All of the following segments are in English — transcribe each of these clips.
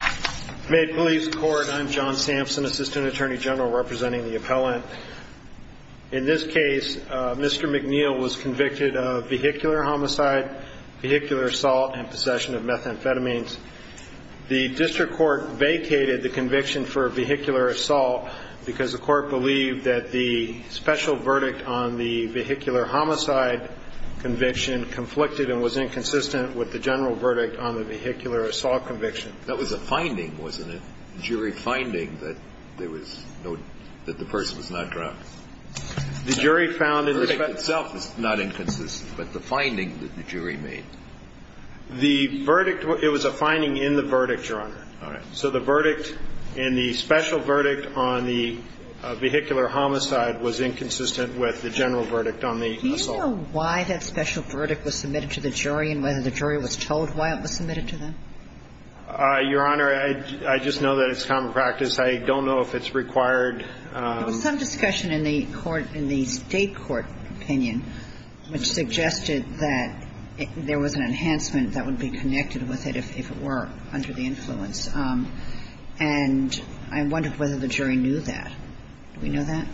In this case, Mr. McNeal was convicted of vehicular homicide, vehicular assault, and possession of methamphetamines. The district court vacated the conviction for vehicular assault because the court believed that the special verdict on the vehicular homicide conviction was inconsistent with the general verdict on the vehicular assault conviction. That was a finding, wasn't it? A jury finding that the person was not drunk. The verdict itself is not inconsistent, but the finding that the jury made. It was a finding in the verdict, Your Honor. All right. So the verdict in the special verdict on the vehicular homicide was inconsistent with the general verdict on the assault. Do you know why that special verdict was submitted to the jury and whether the jury was told why it was submitted to them? Your Honor, I just know that it's common practice. I don't know if it's required. There was some discussion in the court, in the state court opinion, which suggested that there was an enhancement that would be connected with it if it were under the influence. And I wonder whether the jury knew that. Do we know that?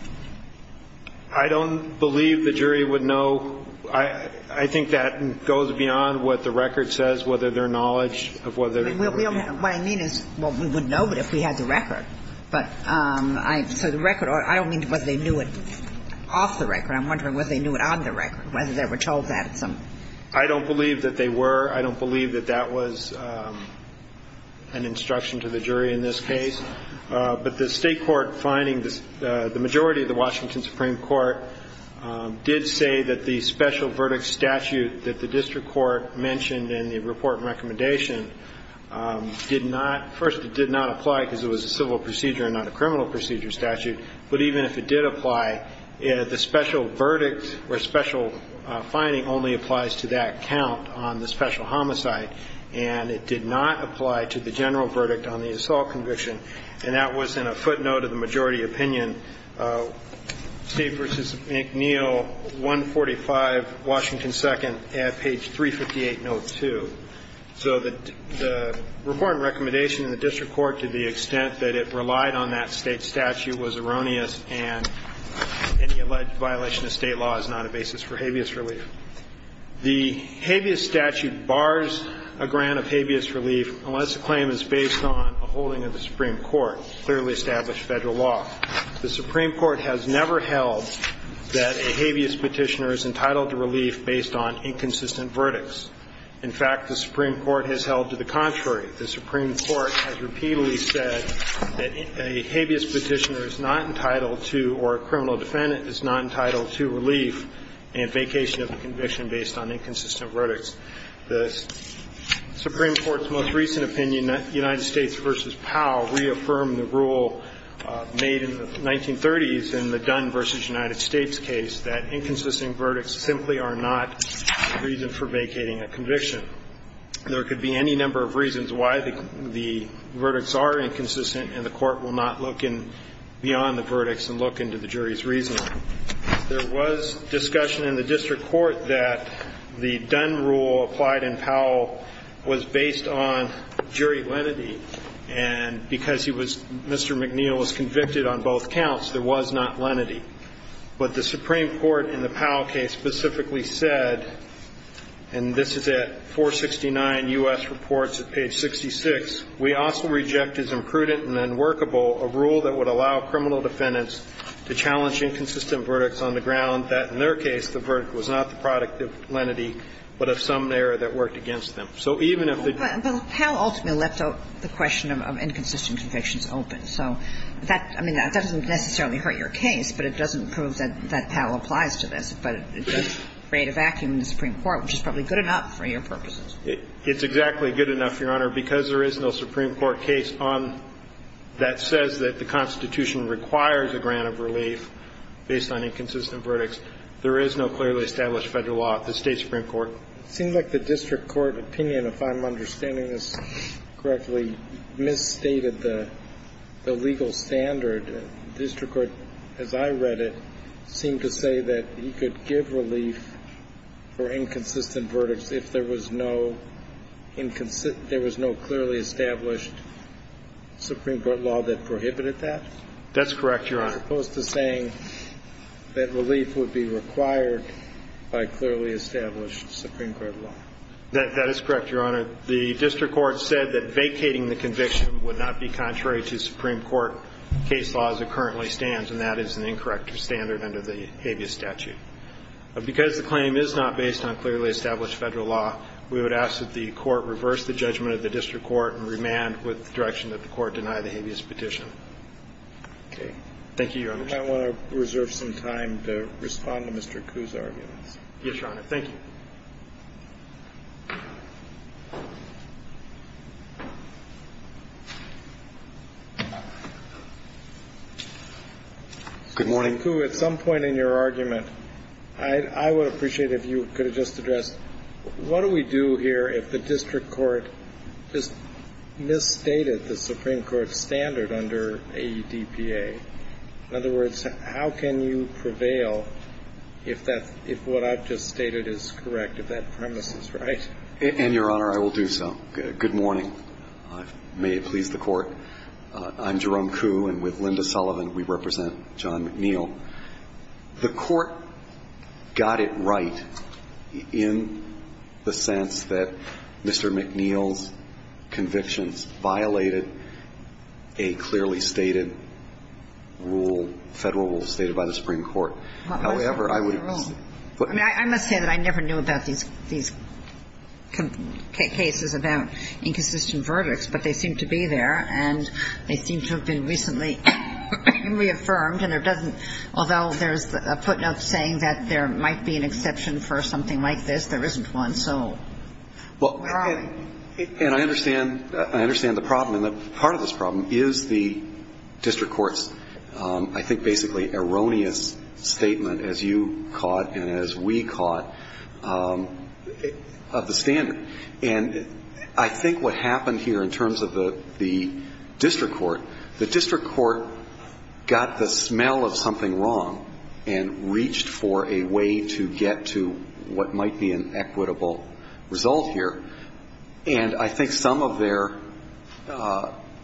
I don't believe the jury would know. I think that goes beyond what the record says, whether their knowledge of whether it would have been. What I mean is, well, we would know if we had the record. But so the record, I don't mean whether they knew it off the record. I'm wondering whether they knew it on the record, whether they were told that at some point. I don't believe that they were. I don't believe that that was an instruction to the jury in this case. But the state court finding, the majority of the Washington Supreme Court did say that the special verdict statute that the district court mentioned in the report and recommendation did not, first it did not apply because it was a civil procedure and not a criminal procedure statute. But even if it did apply, the special verdict or special finding only applies to that count on the special homicide. And it did not apply to the general verdict on the assault conviction. And that was in a footnote of the majority opinion, Steve versus McNeil, 145, Washington 2nd, at page 358, note 2. So the report and recommendation in the district court to the extent that it relied on that state statute was erroneous. And any alleged violation of state law is not a basis for habeas relief. The habeas statute bars a grant of habeas relief unless the claim is based on a holding of the Supreme Court, clearly established Federal law. The Supreme Court has never held that a habeas petitioner is entitled to relief based on inconsistent verdicts. In fact, the Supreme Court has held to the contrary. The Supreme Court has repeatedly said that a habeas petitioner is not entitled to, or a criminal defendant is not entitled to relief and vacation of the conviction based on inconsistent verdicts. The Supreme Court's most recent opinion, United States versus Powell, reaffirmed the rule made in the 1930s in the Dunn versus United States case, that inconsistent verdicts simply are not reason for vacating a conviction. There could be any number of reasons why the verdicts are inconsistent, and the court will not look beyond the verdicts and look into the jury's reasoning. There was discussion in the district court that the Dunn rule applied in Powell was based on jury lenity, and because Mr. McNeil was convicted on both counts, there was not lenity. But the Supreme Court in the Powell case specifically said, and this is at 469 U.S. Reports at page 66, we also reject as imprudent and unworkable a rule that would allow criminal defendants to challenge inconsistent verdicts on the ground that, in their case, the verdict was not the product of lenity, but of some error that worked against them. So even if the jury lenity was inconsistent, the verdict was not a product of lenity. Kagan. But Powell ultimately left the question of inconsistent convictions open. So that doesn't necessarily hurt your case, but it doesn't prove that Powell applies to this, but it does create a vacuum in the Supreme Court, which is probably good enough for your purposes. It's exactly good enough, Your Honor, because there is no Supreme Court case on that says that the Constitution requires a grant of relief based on inconsistent verdicts. There is no clearly established Federal law at the State Supreme Court. It seems like the district court opinion, if I'm understanding this correctly, misstated the legal standard. The district court, as I read it, seemed to say that he could give relief for inconsistent verdicts if there was no clearly established Supreme Court law that prohibited that. That's correct, Your Honor. As opposed to saying that relief would be required by clearly established Supreme Court law. That is correct, Your Honor. The district court said that vacating the conviction would not be contrary to Supreme Court case law as it currently stands, and that is an incorrect standard under the habeas statute. Because the claim is not based on clearly established Federal law, we would ask that the court reverse the judgment of the district court and remand with the direction that the court deny the habeas petition. Okay. Thank you, Your Honor. I want to reserve some time to respond to Mr. Koo's arguments. Yes, Your Honor. Good morning. Mr. Koo, at some point in your argument, I would appreciate if you could have just addressed what do we do here if the district court just misstated the Supreme Court standard under AEDPA? In other words, how can you prevail if what I've just stated is correct, if that premise is right? And, Your Honor, I will do so. Good morning. May it please the Court. Thank you, Your Honor. I'm Jerome Koo, and with Linda Sullivan, we represent John McNeil. The Court got it right in the sense that Mr. McNeil's convictions violated a clearly stated rule, Federal rule stated by the Supreme Court. However, I would say that I never knew about these cases about inconsistent verdicts, but they seem to be there, and they seem to have been recently reaffirmed, and there doesn't ñ although there's a footnote saying that there might be an exception for something like this, there isn't one. So why? And I understand the problem, and part of this problem is the district court's, I think, basically erroneous statement, as you caught and as we caught, of the standard. And I think what happened here in terms of the district court, the district court got the smell of something wrong and reached for a way to get to what might be an equitable result here. And I think some of their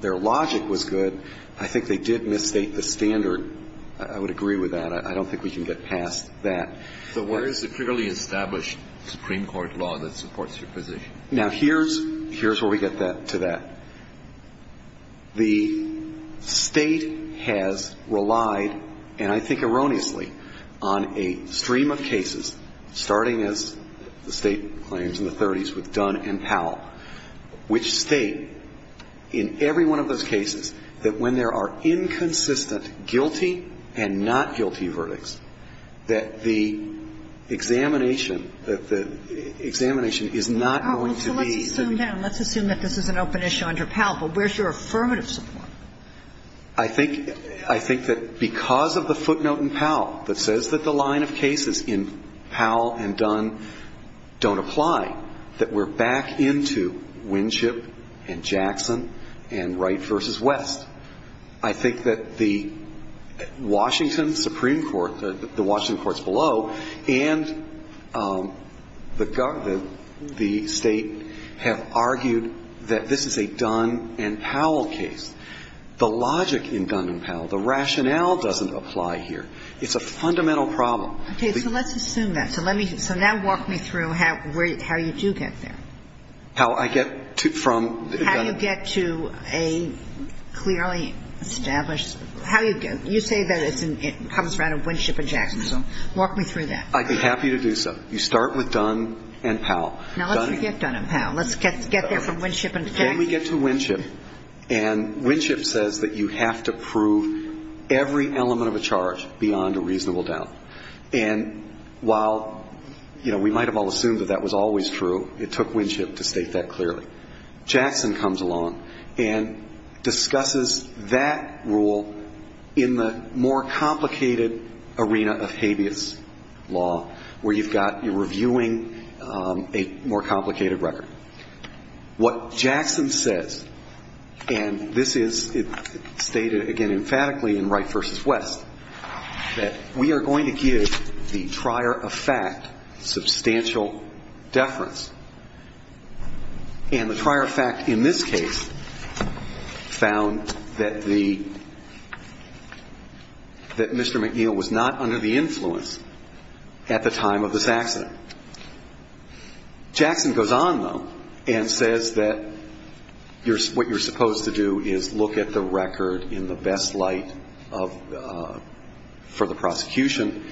logic was good. I think they did misstate the standard. I would agree with that. I don't think we can get past that. So where is the clearly established Supreme Court law that supports your position? Now, here's where we get to that. The State has relied, and I think erroneously, on a stream of cases, starting as the State claims in the 30s with Dunn and Powell, which state in every one of those cases that when there are inconsistent guilty and not guilty verdicts, that the examination, that the examination is not going to be. So let's assume that. Let's assume that this is an open issue under Powell. But where's your affirmative support? I think that because of the footnote in Powell that says that the line of cases in Powell and Dunn don't apply, that we're back into Winship and Jackson and Wright v. West. I think that the Washington Supreme Court, the Washington courts below, and the State have argued that this is a Dunn and Powell case. The logic in Dunn and Powell, the rationale doesn't apply here. It's a fundamental problem. Okay. So let's assume that. So now walk me through how you do get there. How I get from the Dunn and Powell. How you get to a clearly established, how you get, you say that it comes around in Winship and Jackson. So walk me through that. I'd be happy to do so. You start with Dunn and Powell. Now let's forget Dunn and Powell. Let's get there from Winship and Jackson. Then we get to Winship. And Winship says that you have to prove every element of a charge beyond a reasonable doubt. And while, you know, we might have all assumed that that was always true, it took Winship to state that clearly. Jackson comes along and discusses that rule in the more complicated arena of habeas law where you've got, you're reviewing a more complicated record. What Jackson says, and this is stated again emphatically in Wright v. West, that we are going to give the trier of fact substantial deference. And the trier of fact in this case found that the, that Mr. McNeil was not under the influence at the time of this accident. Jackson goes on, though, and says that what you're supposed to do is look at the record in the best light of, for the prosecution.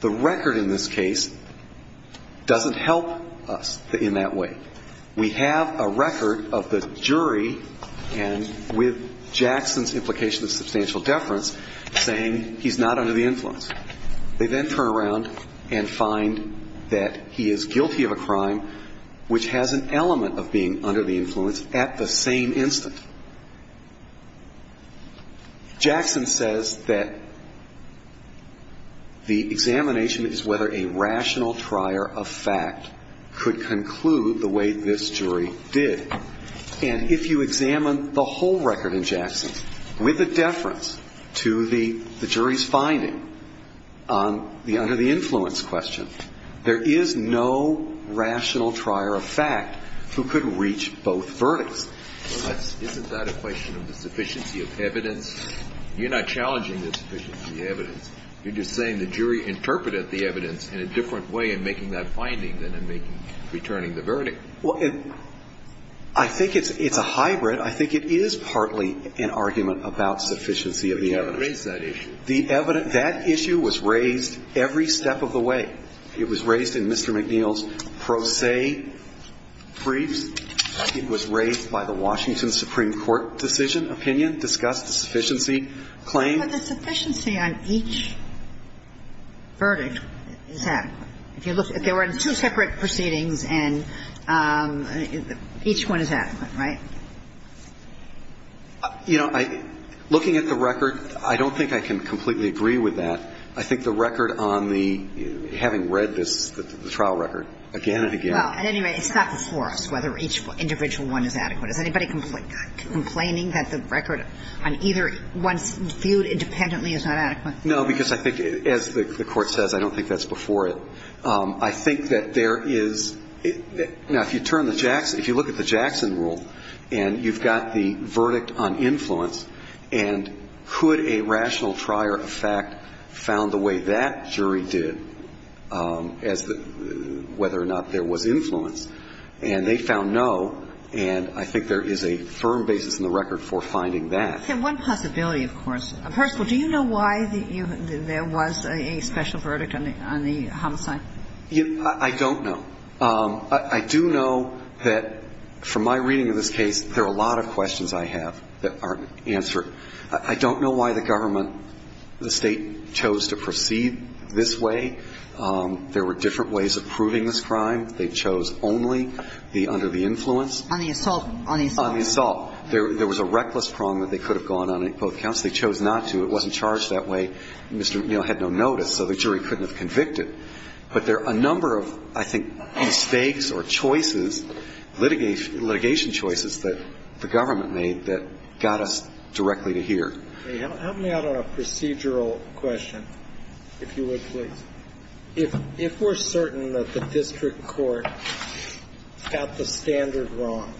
The record in this case doesn't help us in that way. We have a record of the jury and with Jackson's implication of substantial deference saying he's not under the influence. They then turn around and find that he is guilty of a crime which has an element of being under the influence at the same instant. Jackson says that the examination is whether a rational trier of fact could conclude the way this jury did. And if you examine the whole record in Jackson with a deference to the jury's finding on the under the influence question, there is no rational trier of fact who could reach both verdicts. Isn't that a question of the sufficiency of evidence? You're not challenging the sufficiency of evidence. You're just saying the jury interpreted the evidence in a different way in making that finding than in making, returning the verdict. Well, I think it's a hybrid. I think it is partly an argument about sufficiency of the evidence. You raised that issue. The evidence, that issue was raised every step of the way. It was raised in Mr. McNeil's pro se briefs. It was raised by the Washington Supreme Court decision, opinion, discussed sufficiency claim. But the sufficiency on each verdict is adequate. If you look, if there were two separate proceedings and each one is adequate, right? You know, looking at the record, I don't think I can completely agree with that. I think the record on the, having read this, the trial record again and again. Well, at any rate, it's not before us whether each individual one is adequate. Is anybody complaining that the record on either one's viewed independently is not adequate? No, because I think, as the Court says, I don't think that's before it. I think that there is, now, if you turn the Jackson, if you look at the Jackson rule, and you've got the verdict on influence, and could a rational trier of fact found the way that jury did as to whether or not there was influence, and they found no, and I think there is a firm basis in the record for finding that. One possibility, of course. First of all, do you know why there was a special verdict on the homicide? I don't know. I do know that, from my reading of this case, there are a lot of questions I have that aren't answered. I don't know why the government, the State, chose to proceed this way. There were different ways of proving this crime. They chose only the under the influence. On the assault. On the assault. There was a reckless prong that they could have gone on in both counts. They chose not to. It wasn't charged that way. Mr. O'Neill had no notice, so the jury couldn't have convicted. But there are a number of, I think, mistakes or choices, litigation choices, that the government made that got us directly to here. Help me out on a procedural question, if you would, please. If we're certain that the district court got the standard wrong,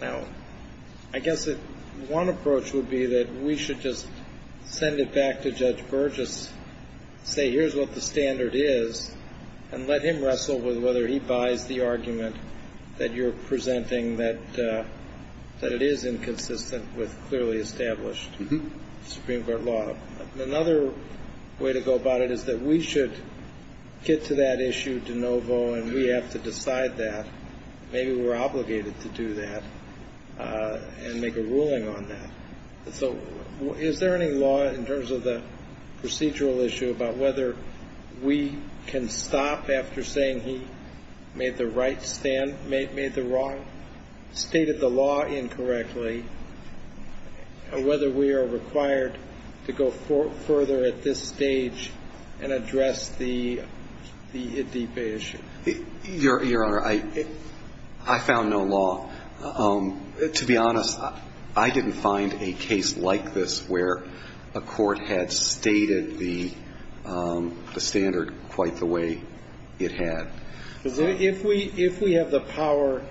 now, I guess one approach would be that we should just send it back to Judge Burgess, say, here's what the standard is, and let him wrestle with whether he buys the argument that you're presenting that it is inconsistent with clearly established Supreme Court law. Another way to go about it is that we should get to that issue de novo, and we have to decide that. Maybe we're obligated to do that and make a ruling on that. So is there any law, in terms of the procedural issue, about whether we can stop after saying he made the right stand, made the wrong, stated the law incorrectly, and whether we are required to go further at this stage and address the Adeepe issue? Your Honor, I found no law. To be honest, I didn't find a case like this where a court had stated the standard quite the way it had. If we have the power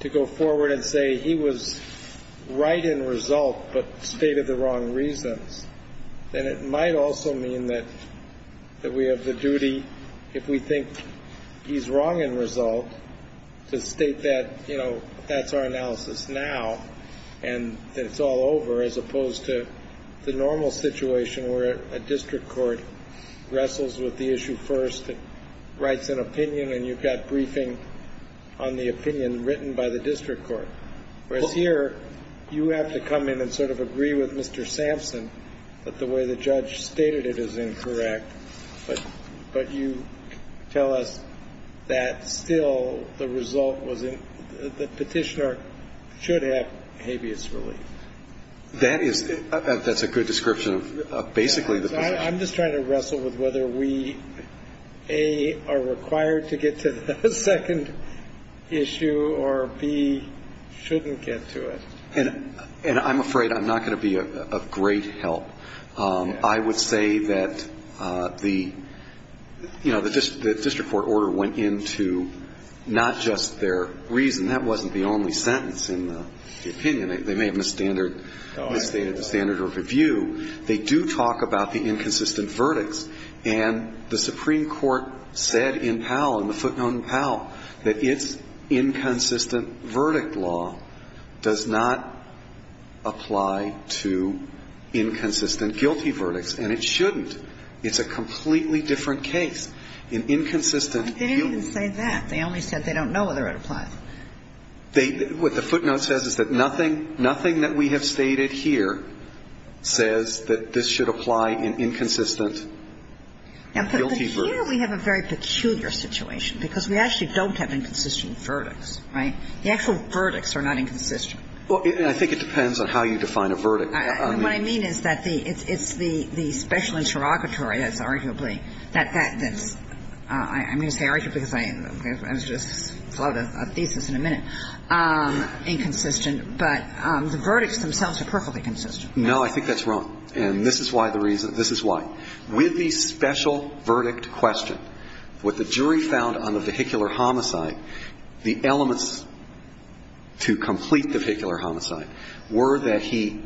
to go forward and say he was right in result but stated the wrong reasons, then it might also mean that we have the duty, if we think he's wrong in result, to state that, you know, that's our analysis now, and that it's all over as opposed to the normal situation where a district court wrestles with the issue first and writes an opinion, and you've got briefing on the opinion written by the district court. Whereas here, you have to come in and sort of agree with Mr. Sampson that the way the judge stated it is incorrect, but you tell us that still the result was in the petitioner should have habeas relief. That is a good description of basically the position. I'm just trying to wrestle with whether we, A, are required to get to the second issue, or, B, shouldn't get to it. And I'm afraid I'm not going to be of great help. I would say that the, you know, the district court order went into not just their reason. That wasn't the only sentence in the opinion. They may have misstated the standard of review. They do talk about the inconsistent verdicts, and the Supreme Court said in Powell, in the footnote in Powell, that its inconsistent verdict law does not apply to inconsistent guilty verdicts. And it shouldn't. It's a completely different case. In inconsistent guilty verdicts. They didn't even say that. They only said they don't know whether it applies. What the footnote says is that nothing that we have stated here says that this should apply in inconsistent guilty verdicts. But here we have a very peculiar situation, because we actually don't have inconsistent verdicts, right? The actual verdicts are not inconsistent. Well, I think it depends on how you define a verdict. What I mean is that the – it's the special interrogatory that's arguably that that's – I'm going to say arguably because I just floated a thesis in a minute – inconsistent, but the verdicts themselves are perfectly consistent. No, I think that's wrong. And this is why the reason – this is why. With the special verdict question, what the jury found on the vehicular homicide, the elements to complete the vehicular homicide were that he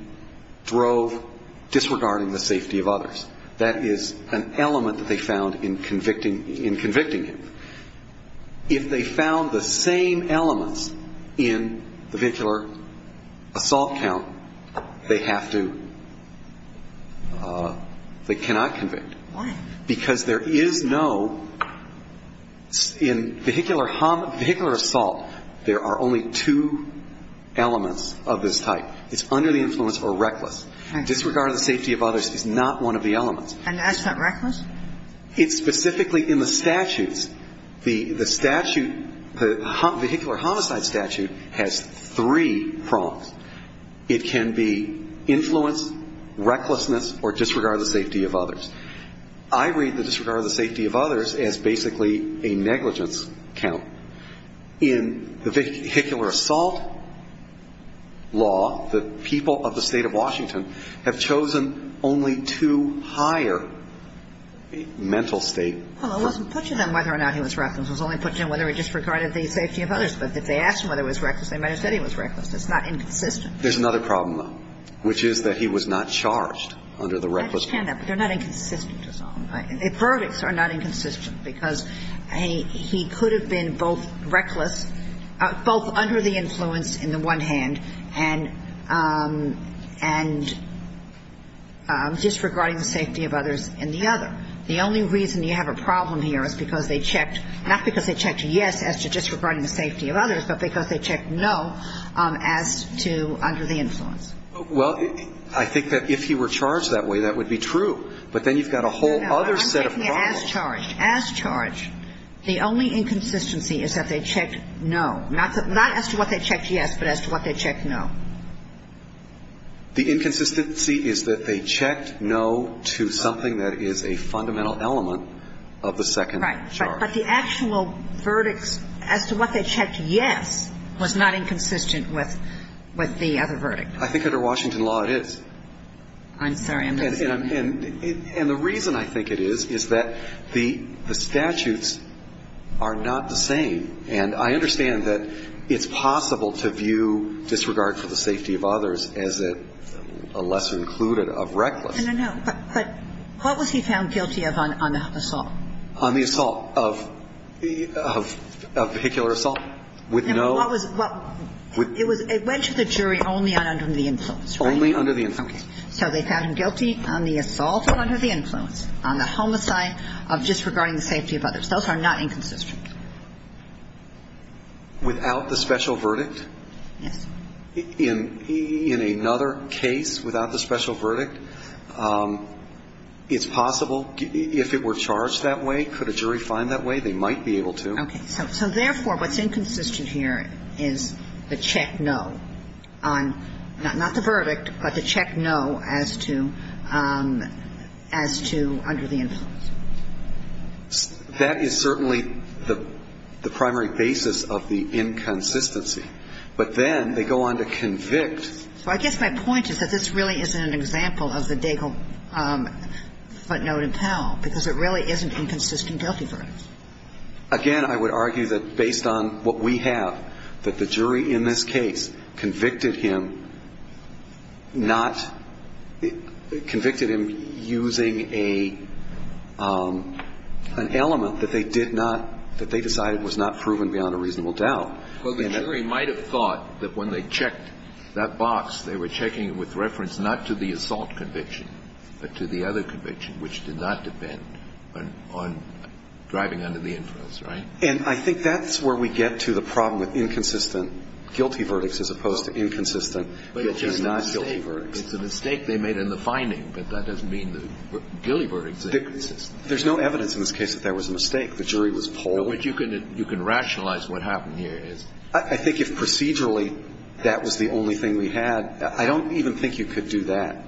drove disregarding the safety of others. That is an element that they found in convicting him. If they found the same elements in the vehicular assault count, they have to – they cannot convict. Why? Because there is no – in vehicular assault, there are only two elements of this type. It's under the influence or reckless. Disregarding the safety of others is not one of the elements. And that's not reckless? It's specifically in the statutes. The statute – the vehicular homicide statute has three prongs. It can be influence, recklessness, or disregard of the safety of others. I read the disregard of the safety of others as basically a negligence count. In the vehicular assault law, the people of the state of Washington have chosen only to hire a mental state – Well, it wasn't put to them whether or not he was reckless. It was only put to them whether he disregarded the safety of others. But if they asked him whether he was reckless, they might have said he was reckless. That's not inconsistent. There's another problem, though, which is that he was not charged under the reckless count. I understand that, but they're not inconsistent to some. The verdicts are not inconsistent because he could have been both reckless – both under the influence in the one hand and disregarding the safety of others in the other. The only reason you have a problem here is because they checked – not because they checked yes as to disregarding the safety of others, but because they checked no as to under the influence. Well, I think that if he were charged that way, that would be true. But then you've got a whole other set of problems. No, I'm taking it as charged. As charged. The only inconsistency is that they checked no. Not as to what they checked yes, but as to what they checked no. The inconsistency is that they checked no to something that is a fundamental element of the second charge. Right. But the actual verdicts as to what they checked yes was not inconsistent with the other verdict. I think under Washington law it is. I'm sorry. And the reason I think it is, is that the statutes are not the same. And I understand that it's possible to view disregard for the safety of others as a lesser included of reckless. No, no, no. But what was he found guilty of on assault? On the assault of vehicular assault? With no – What was – it went to the jury only under the influence, right? Only under the influence. Okay. So they found him guilty on the assault under the influence, on the homicide of disregarding the safety of others. Those are not inconsistent. Without the special verdict? Yes. In another case without the special verdict, it's possible, if it were charged that way, could a jury find that way? They might be able to. Okay. So therefore, what's inconsistent here is the check no on not the verdict, but the check no as to under the influence. That is certainly the primary basis of the inconsistency. But then they go on to convict. So I guess my point is that this really isn't an example of the Daigle footnote in Powell, because it really isn't inconsistent guilty verdicts. Again, I would argue that based on what we have, that the jury in this case convicted him using an element that they decided was not proven beyond a reasonable doubt. Well, the jury might have thought that when they checked that box, they were checking it with reference not to the assault conviction, but to the other conviction, which did not depend on driving under the influence, right? And I think that's where we get to the problem with inconsistent guilty verdicts as opposed to inconsistent, which is not guilty verdicts. But it's just a mistake. It's a mistake they made in the finding, but that doesn't mean the guilty verdicts are inconsistent. There's no evidence in this case that there was a mistake. The jury was polled. No, but you can rationalize what happened here. I think if procedurally that was the only thing we had, I don't even think you could do that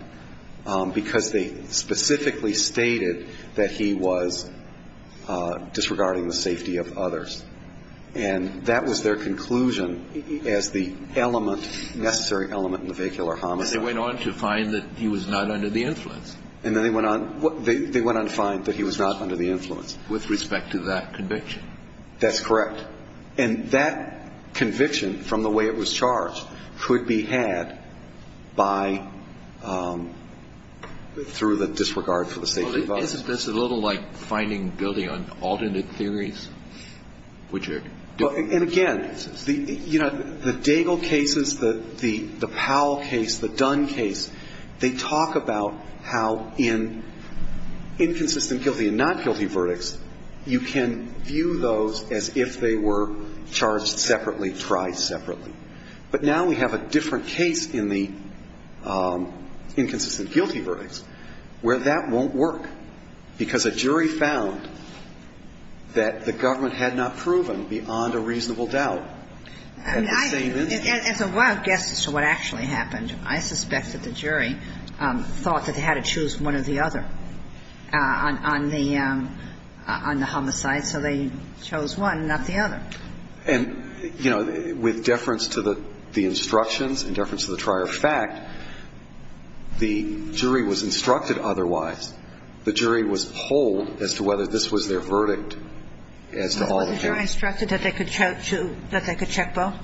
because they specifically stated that he was disregarding the safety of others. And that was their conclusion as the element, necessary element, in the vehicular homicide. But they went on to find that he was not under the influence. And then they went on to find that he was not under the influence. With respect to that conviction. That's correct. And that conviction, from the way it was charged, could be had by, through the disregard for the safety of others. This is a little like finding guilty on alternate theories, which are different. And again, you know, the Daigle cases, the Powell case, the Dunn case, they talk about how in inconsistent guilty and not guilty verdicts, you can view those as if they were charged separately, tried separately. But now we have a different case in the inconsistent guilty verdicts where that won't work because a jury found that the government had not proven beyond a reasonable doubt at the same instance. As a wild guess as to what actually happened, I suspect that the jury thought that they had to choose one or the other on the homicide. So they chose one, not the other. And, you know, with deference to the instructions and deference to the prior fact, the jury was instructed otherwise. The jury was polled as to whether this was their verdict as to all the cases. Was the jury instructed that they could check both?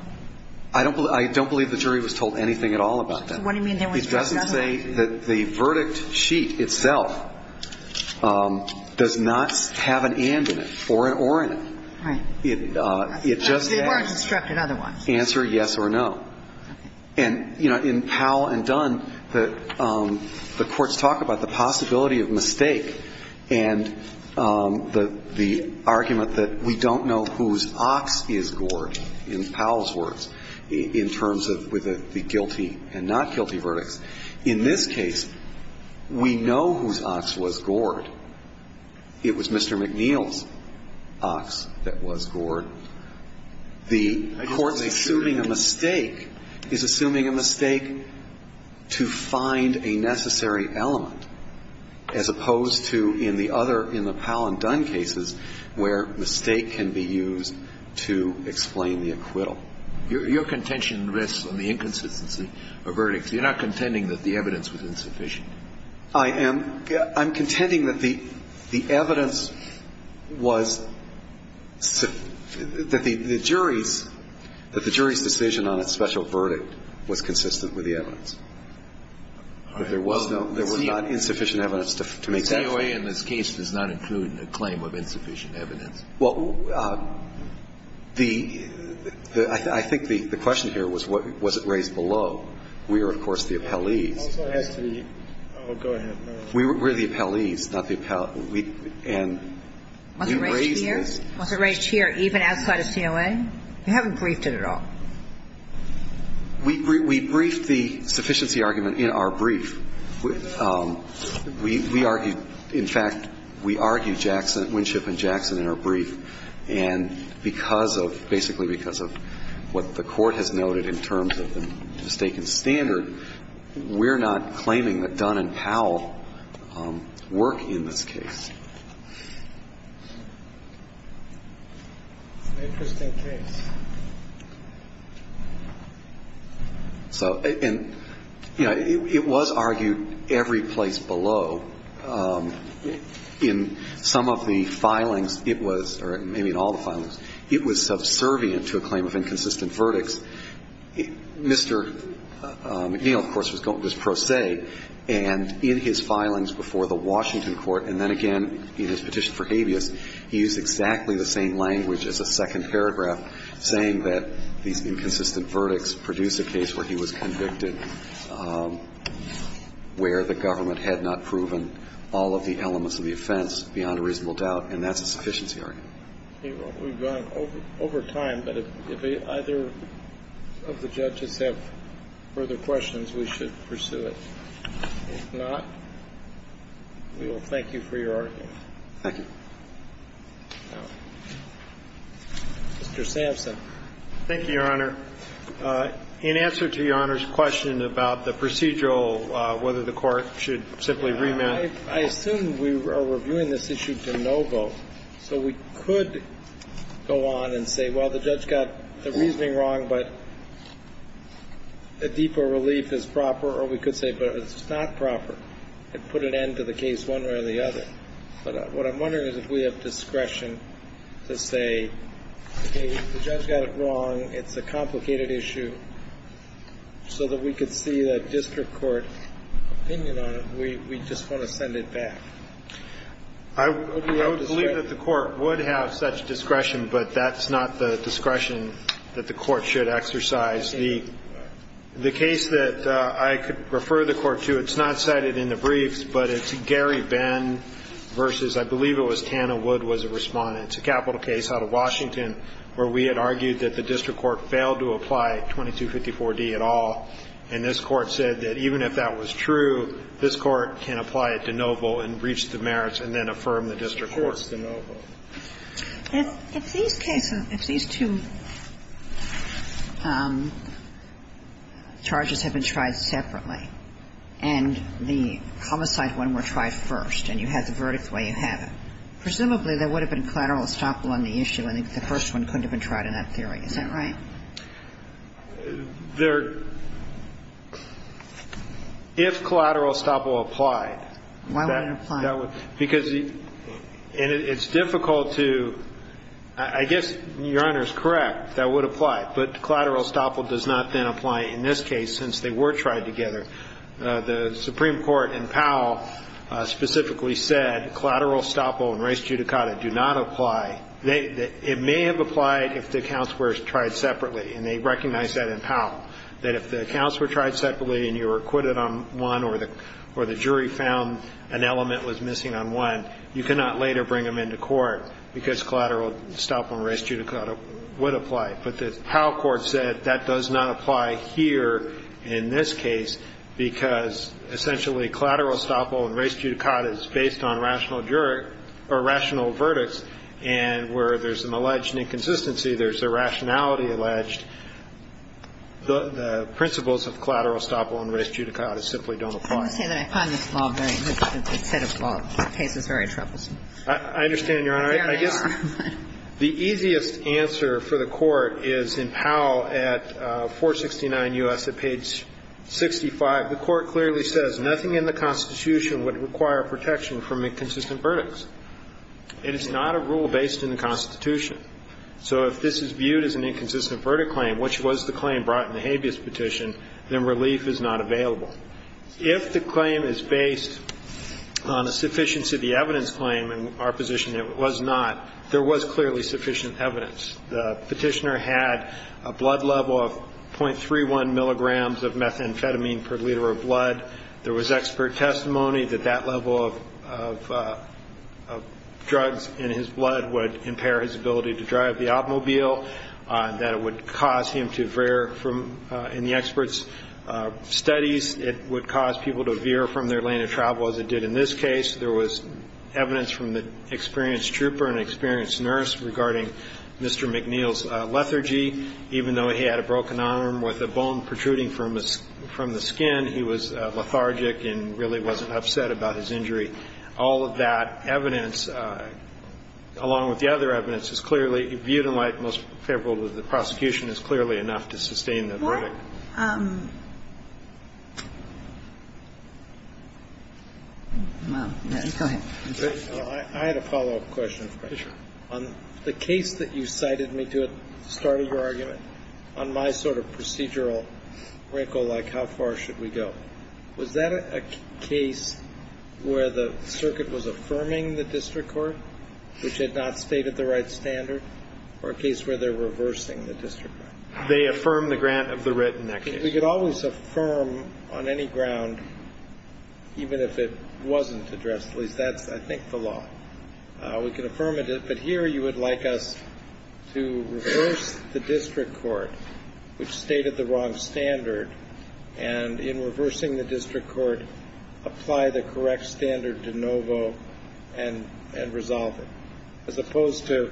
I don't believe the jury was told anything at all about that. So what do you mean they were instructed otherwise? It doesn't say that the verdict sheet itself does not have an and in it or an or in it. Right. It just says answer yes or no. And, you know, in Powell and Dunn, the courts talk about the possibility of mistake and the argument that we don't know whose ox is gored, in Powell's words, in terms of with the guilty and not guilty verdicts. In this case, we know whose ox was gored. It was Mr. McNeil's ox that was gored. The court's assuming a mistake is assuming a mistake to find a necessary element as opposed to in the other, in the Powell and Dunn cases, where mistake can be used to explain the acquittal. Your contention rests on the inconsistency of verdicts. You're not contending that the evidence was insufficient. I am. I'm contending that the evidence was, that the jury's, that the jury's decision on a special verdict was consistent with the evidence, that there was no, there was not insufficient evidence to make that claim. The DOA in this case does not include a claim of insufficient evidence. Well, the, I think the question here was, was it raised below? We are, of course, the appellees. We're the appellees, not the appellate. And we raised this. Was it raised here? Was it raised here even outside of COA? You haven't briefed it at all. We briefed the sufficiency argument in our brief. We argued, in fact, we argued Jackson, Winship and Jackson in our brief. And because of, basically because of what the Court has noted in terms of the mistaken standard, we're not claiming that Dunn and Powell work in this case. It's an interesting case. So, and, you know, it was argued every place below. In some of the filings, it was, or maybe in all the filings, it was subservient to a claim of inconsistent verdicts. Mr. McNeil, of course, was pro se, and in his filings before the Washington Court, and then again in his petition for habeas, he used exactly the same language as a second paragraph saying that these inconsistent verdicts produced a case where he was convicted where the government had not proven all of the elements of the offense beyond a reasonable doubt, and that's a sufficiency argument. We've gone over time, but if either of the judges have further questions, we should pursue it. If not, we will thank you for your argument. Thank you. Mr. Sampson. Thank you, Your Honor. In answer to Your Honor's question about the procedural, whether the Court should simply remand. I assume we are reviewing this issue de novo, so we could go on and say, well, the judge got the reasoning wrong, but a deeper relief is proper, or we could say, but it's not proper, and put an end to the case one way or the other. But what I'm wondering is if we have discretion to say, okay, the judge got it wrong, it's a complicated issue, so that we could see that district court opinion on it. We just want to send it back. I would believe that the Court would have such discretion, but that's not the discretion that the Court should exercise. The case that I could refer the Court to, it's not cited in the briefs, but it's Gary Benn v. I believe it was Tana Wood was a Respondent. It's a capital case out of Washington where we had argued that the district court failed to apply 2254d at all. And this Court said that even if that was true, this Court can apply it de novo and reach the merits and then affirm the district court. It's of course de novo. If these cases, if these two charges have been tried separately and the homicide one were tried first and you have the verdict the way you have it, presumably there would have been collateral estoppel on the issue and the first one couldn't have been tried in that theory. Is that right? If collateral estoppel applied. Why would it apply? Because it's difficult to, I guess Your Honor is correct, that would apply. But collateral estoppel does not then apply in this case since they were tried together. The Supreme Court in Powell specifically said collateral estoppel and res judicata do not apply. It may have applied if the accounts were tried separately, and they recognize that in Powell, that if the accounts were tried separately and you were acquitted on one or the jury found an element was missing on one, you cannot later bring them into court because collateral estoppel and res judicata would apply. But the Powell court said that does not apply here in this case because essentially collateral estoppel and res judicata is based on rational verdicts and where there's an alleged inconsistency, there's a rationality alleged, the principles of collateral estoppel and res judicata simply don't apply. I want to say that I find this law very, this set of law cases very troublesome. I understand, Your Honor. There they are. I guess the easiest answer for the Court is in Powell at 469 U.S. at page 65. The Court clearly says nothing in the Constitution would require protection from inconsistent verdicts. And it's not a rule based in the Constitution. So if this is viewed as an inconsistent verdict claim, which was the claim brought in the habeas petition, then relief is not available. If the claim is based on a sufficiency of the evidence claim, in our position it was not, there was clearly sufficient evidence. The petitioner had a blood level of .31 milligrams of methamphetamine per liter of blood. There was expert testimony that that level of drugs in his blood would impair his ability to drive the automobile, that it would cause him to veer from, in the expert's studies, it would cause people to veer from their lane of travel as it did in this case. There was evidence from the experienced trooper and experienced nurse regarding Mr. McNeil's lethargy. Even though he had a broken arm with a bone protruding from the skin, he was lethargic and really wasn't upset about his injury. All of that evidence, along with the other evidence, is clearly viewed in light, most favorable to the prosecution, is clearly enough to sustain the verdict. Go ahead. I had a follow-up question. Sure. On the case that you cited me to at the start of your argument, on my sort of procedural wrinkle, like how far should we go, was that a case where the circuit was affirming the district court, which had not stated the right standard, or a case where they're reversing the district court? They affirm the grant of the writ in that case. We could always affirm on any ground, even if it wasn't addressed. At least that's, I think, the law. We can affirm it. But here you would like us to reverse the district court, which stated the wrong standard, and in reversing the district court, apply the correct standard de novo and resolve it, as opposed to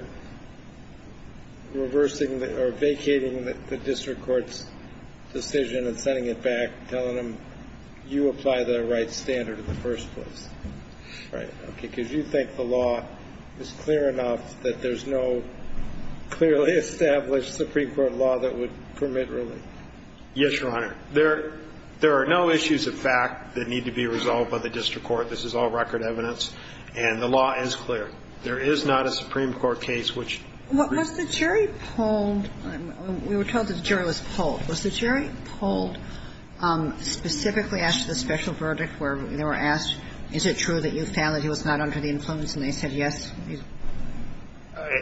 reversing or vacating the district court's decision and sending it back, telling them, you apply the right standard in the first place. Right. Okay. Because you think the law is clear enough that there's no clearly established Supreme Court law that would permit relief. Yes, Your Honor. There are no issues of fact that need to be resolved by the district court. This is all record evidence. And the law is clear. There is not a Supreme Court case which reveals it. Was the jury polled? We were told that the jury was polled. Was the jury polled specifically after the special verdict where they were asked, is it true that your family was not under the influence, and they said yes?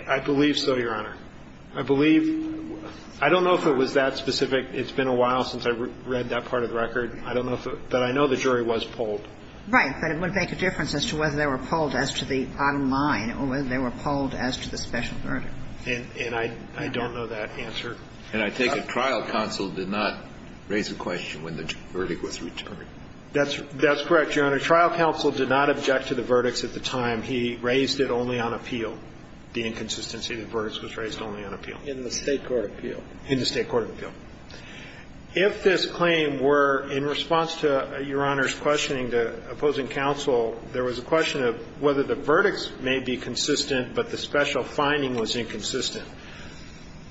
I believe so, Your Honor. I believe – I don't know if it was that specific. It's been a while since I read that part of the record. I don't know if it – but I know the jury was polled. Right, but it wouldn't make a difference as to whether they were polled as to the bottom line or whether they were polled as to the special verdict. And I don't know that answer. And I take it trial counsel did not raise a question when the verdict was returned. That's correct, Your Honor. Trial counsel did not object to the verdicts at the time. He raised it only on appeal, the inconsistency of the verdicts was raised only on appeal. In the State court appeal. In the State court appeal. If this claim were, in response to Your Honor's questioning to opposing counsel, there was a question of whether the verdicts may be consistent, but the special finding was inconsistent.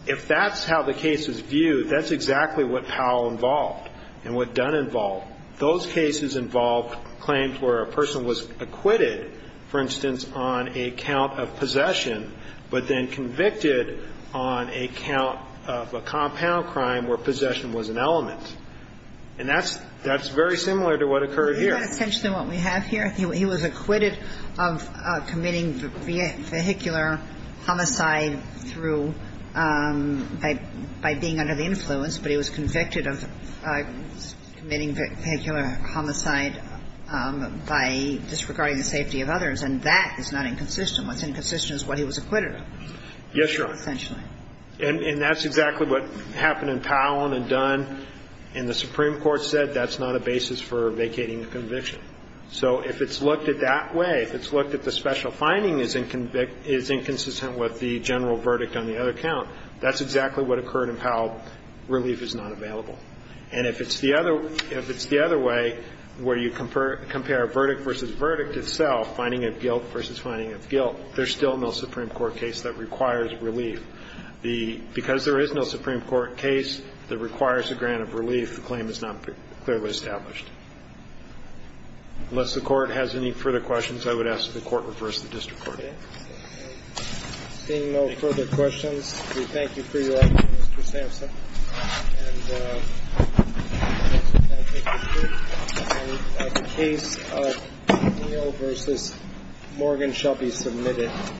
If that's how the case is viewed, that's exactly what Powell involved and what Dunn involved. Those cases involved claims where a person was acquitted, for instance, on a count of possession, but then convicted on a count of a compound crime where possession was an element. And that's very similar to what occurred here. Isn't that essentially what we have here? He was acquitted of committing vehicular homicide through by being under the influence, but he was convicted of committing vehicular homicide by disregarding the safety of others. And that is not inconsistent. What's inconsistent is what he was acquitted of. Yes, Your Honor. Essentially. And that's exactly what happened in Powell and in Dunn. And the Supreme Court said that's not a basis for vacating a conviction. So if it's looked at that way, if it's looked at the special finding is inconsistent with the general verdict on the other count, that's exactly what occurred in Powell. Relief is not available. And if it's the other way, where you compare verdict versus verdict itself, finding of guilt versus finding of guilt, there's still no Supreme Court case that requires relief. Because there is no Supreme Court case that requires a grant of relief, the claim is not clearly established. Unless the Court has any further questions, I would ask that the Court reverse the district court. Okay. Seeing no further questions, we thank you for your effort, Mr. Sampson. And we thank the Court. The case of Neal v. Morgan shall be submitted.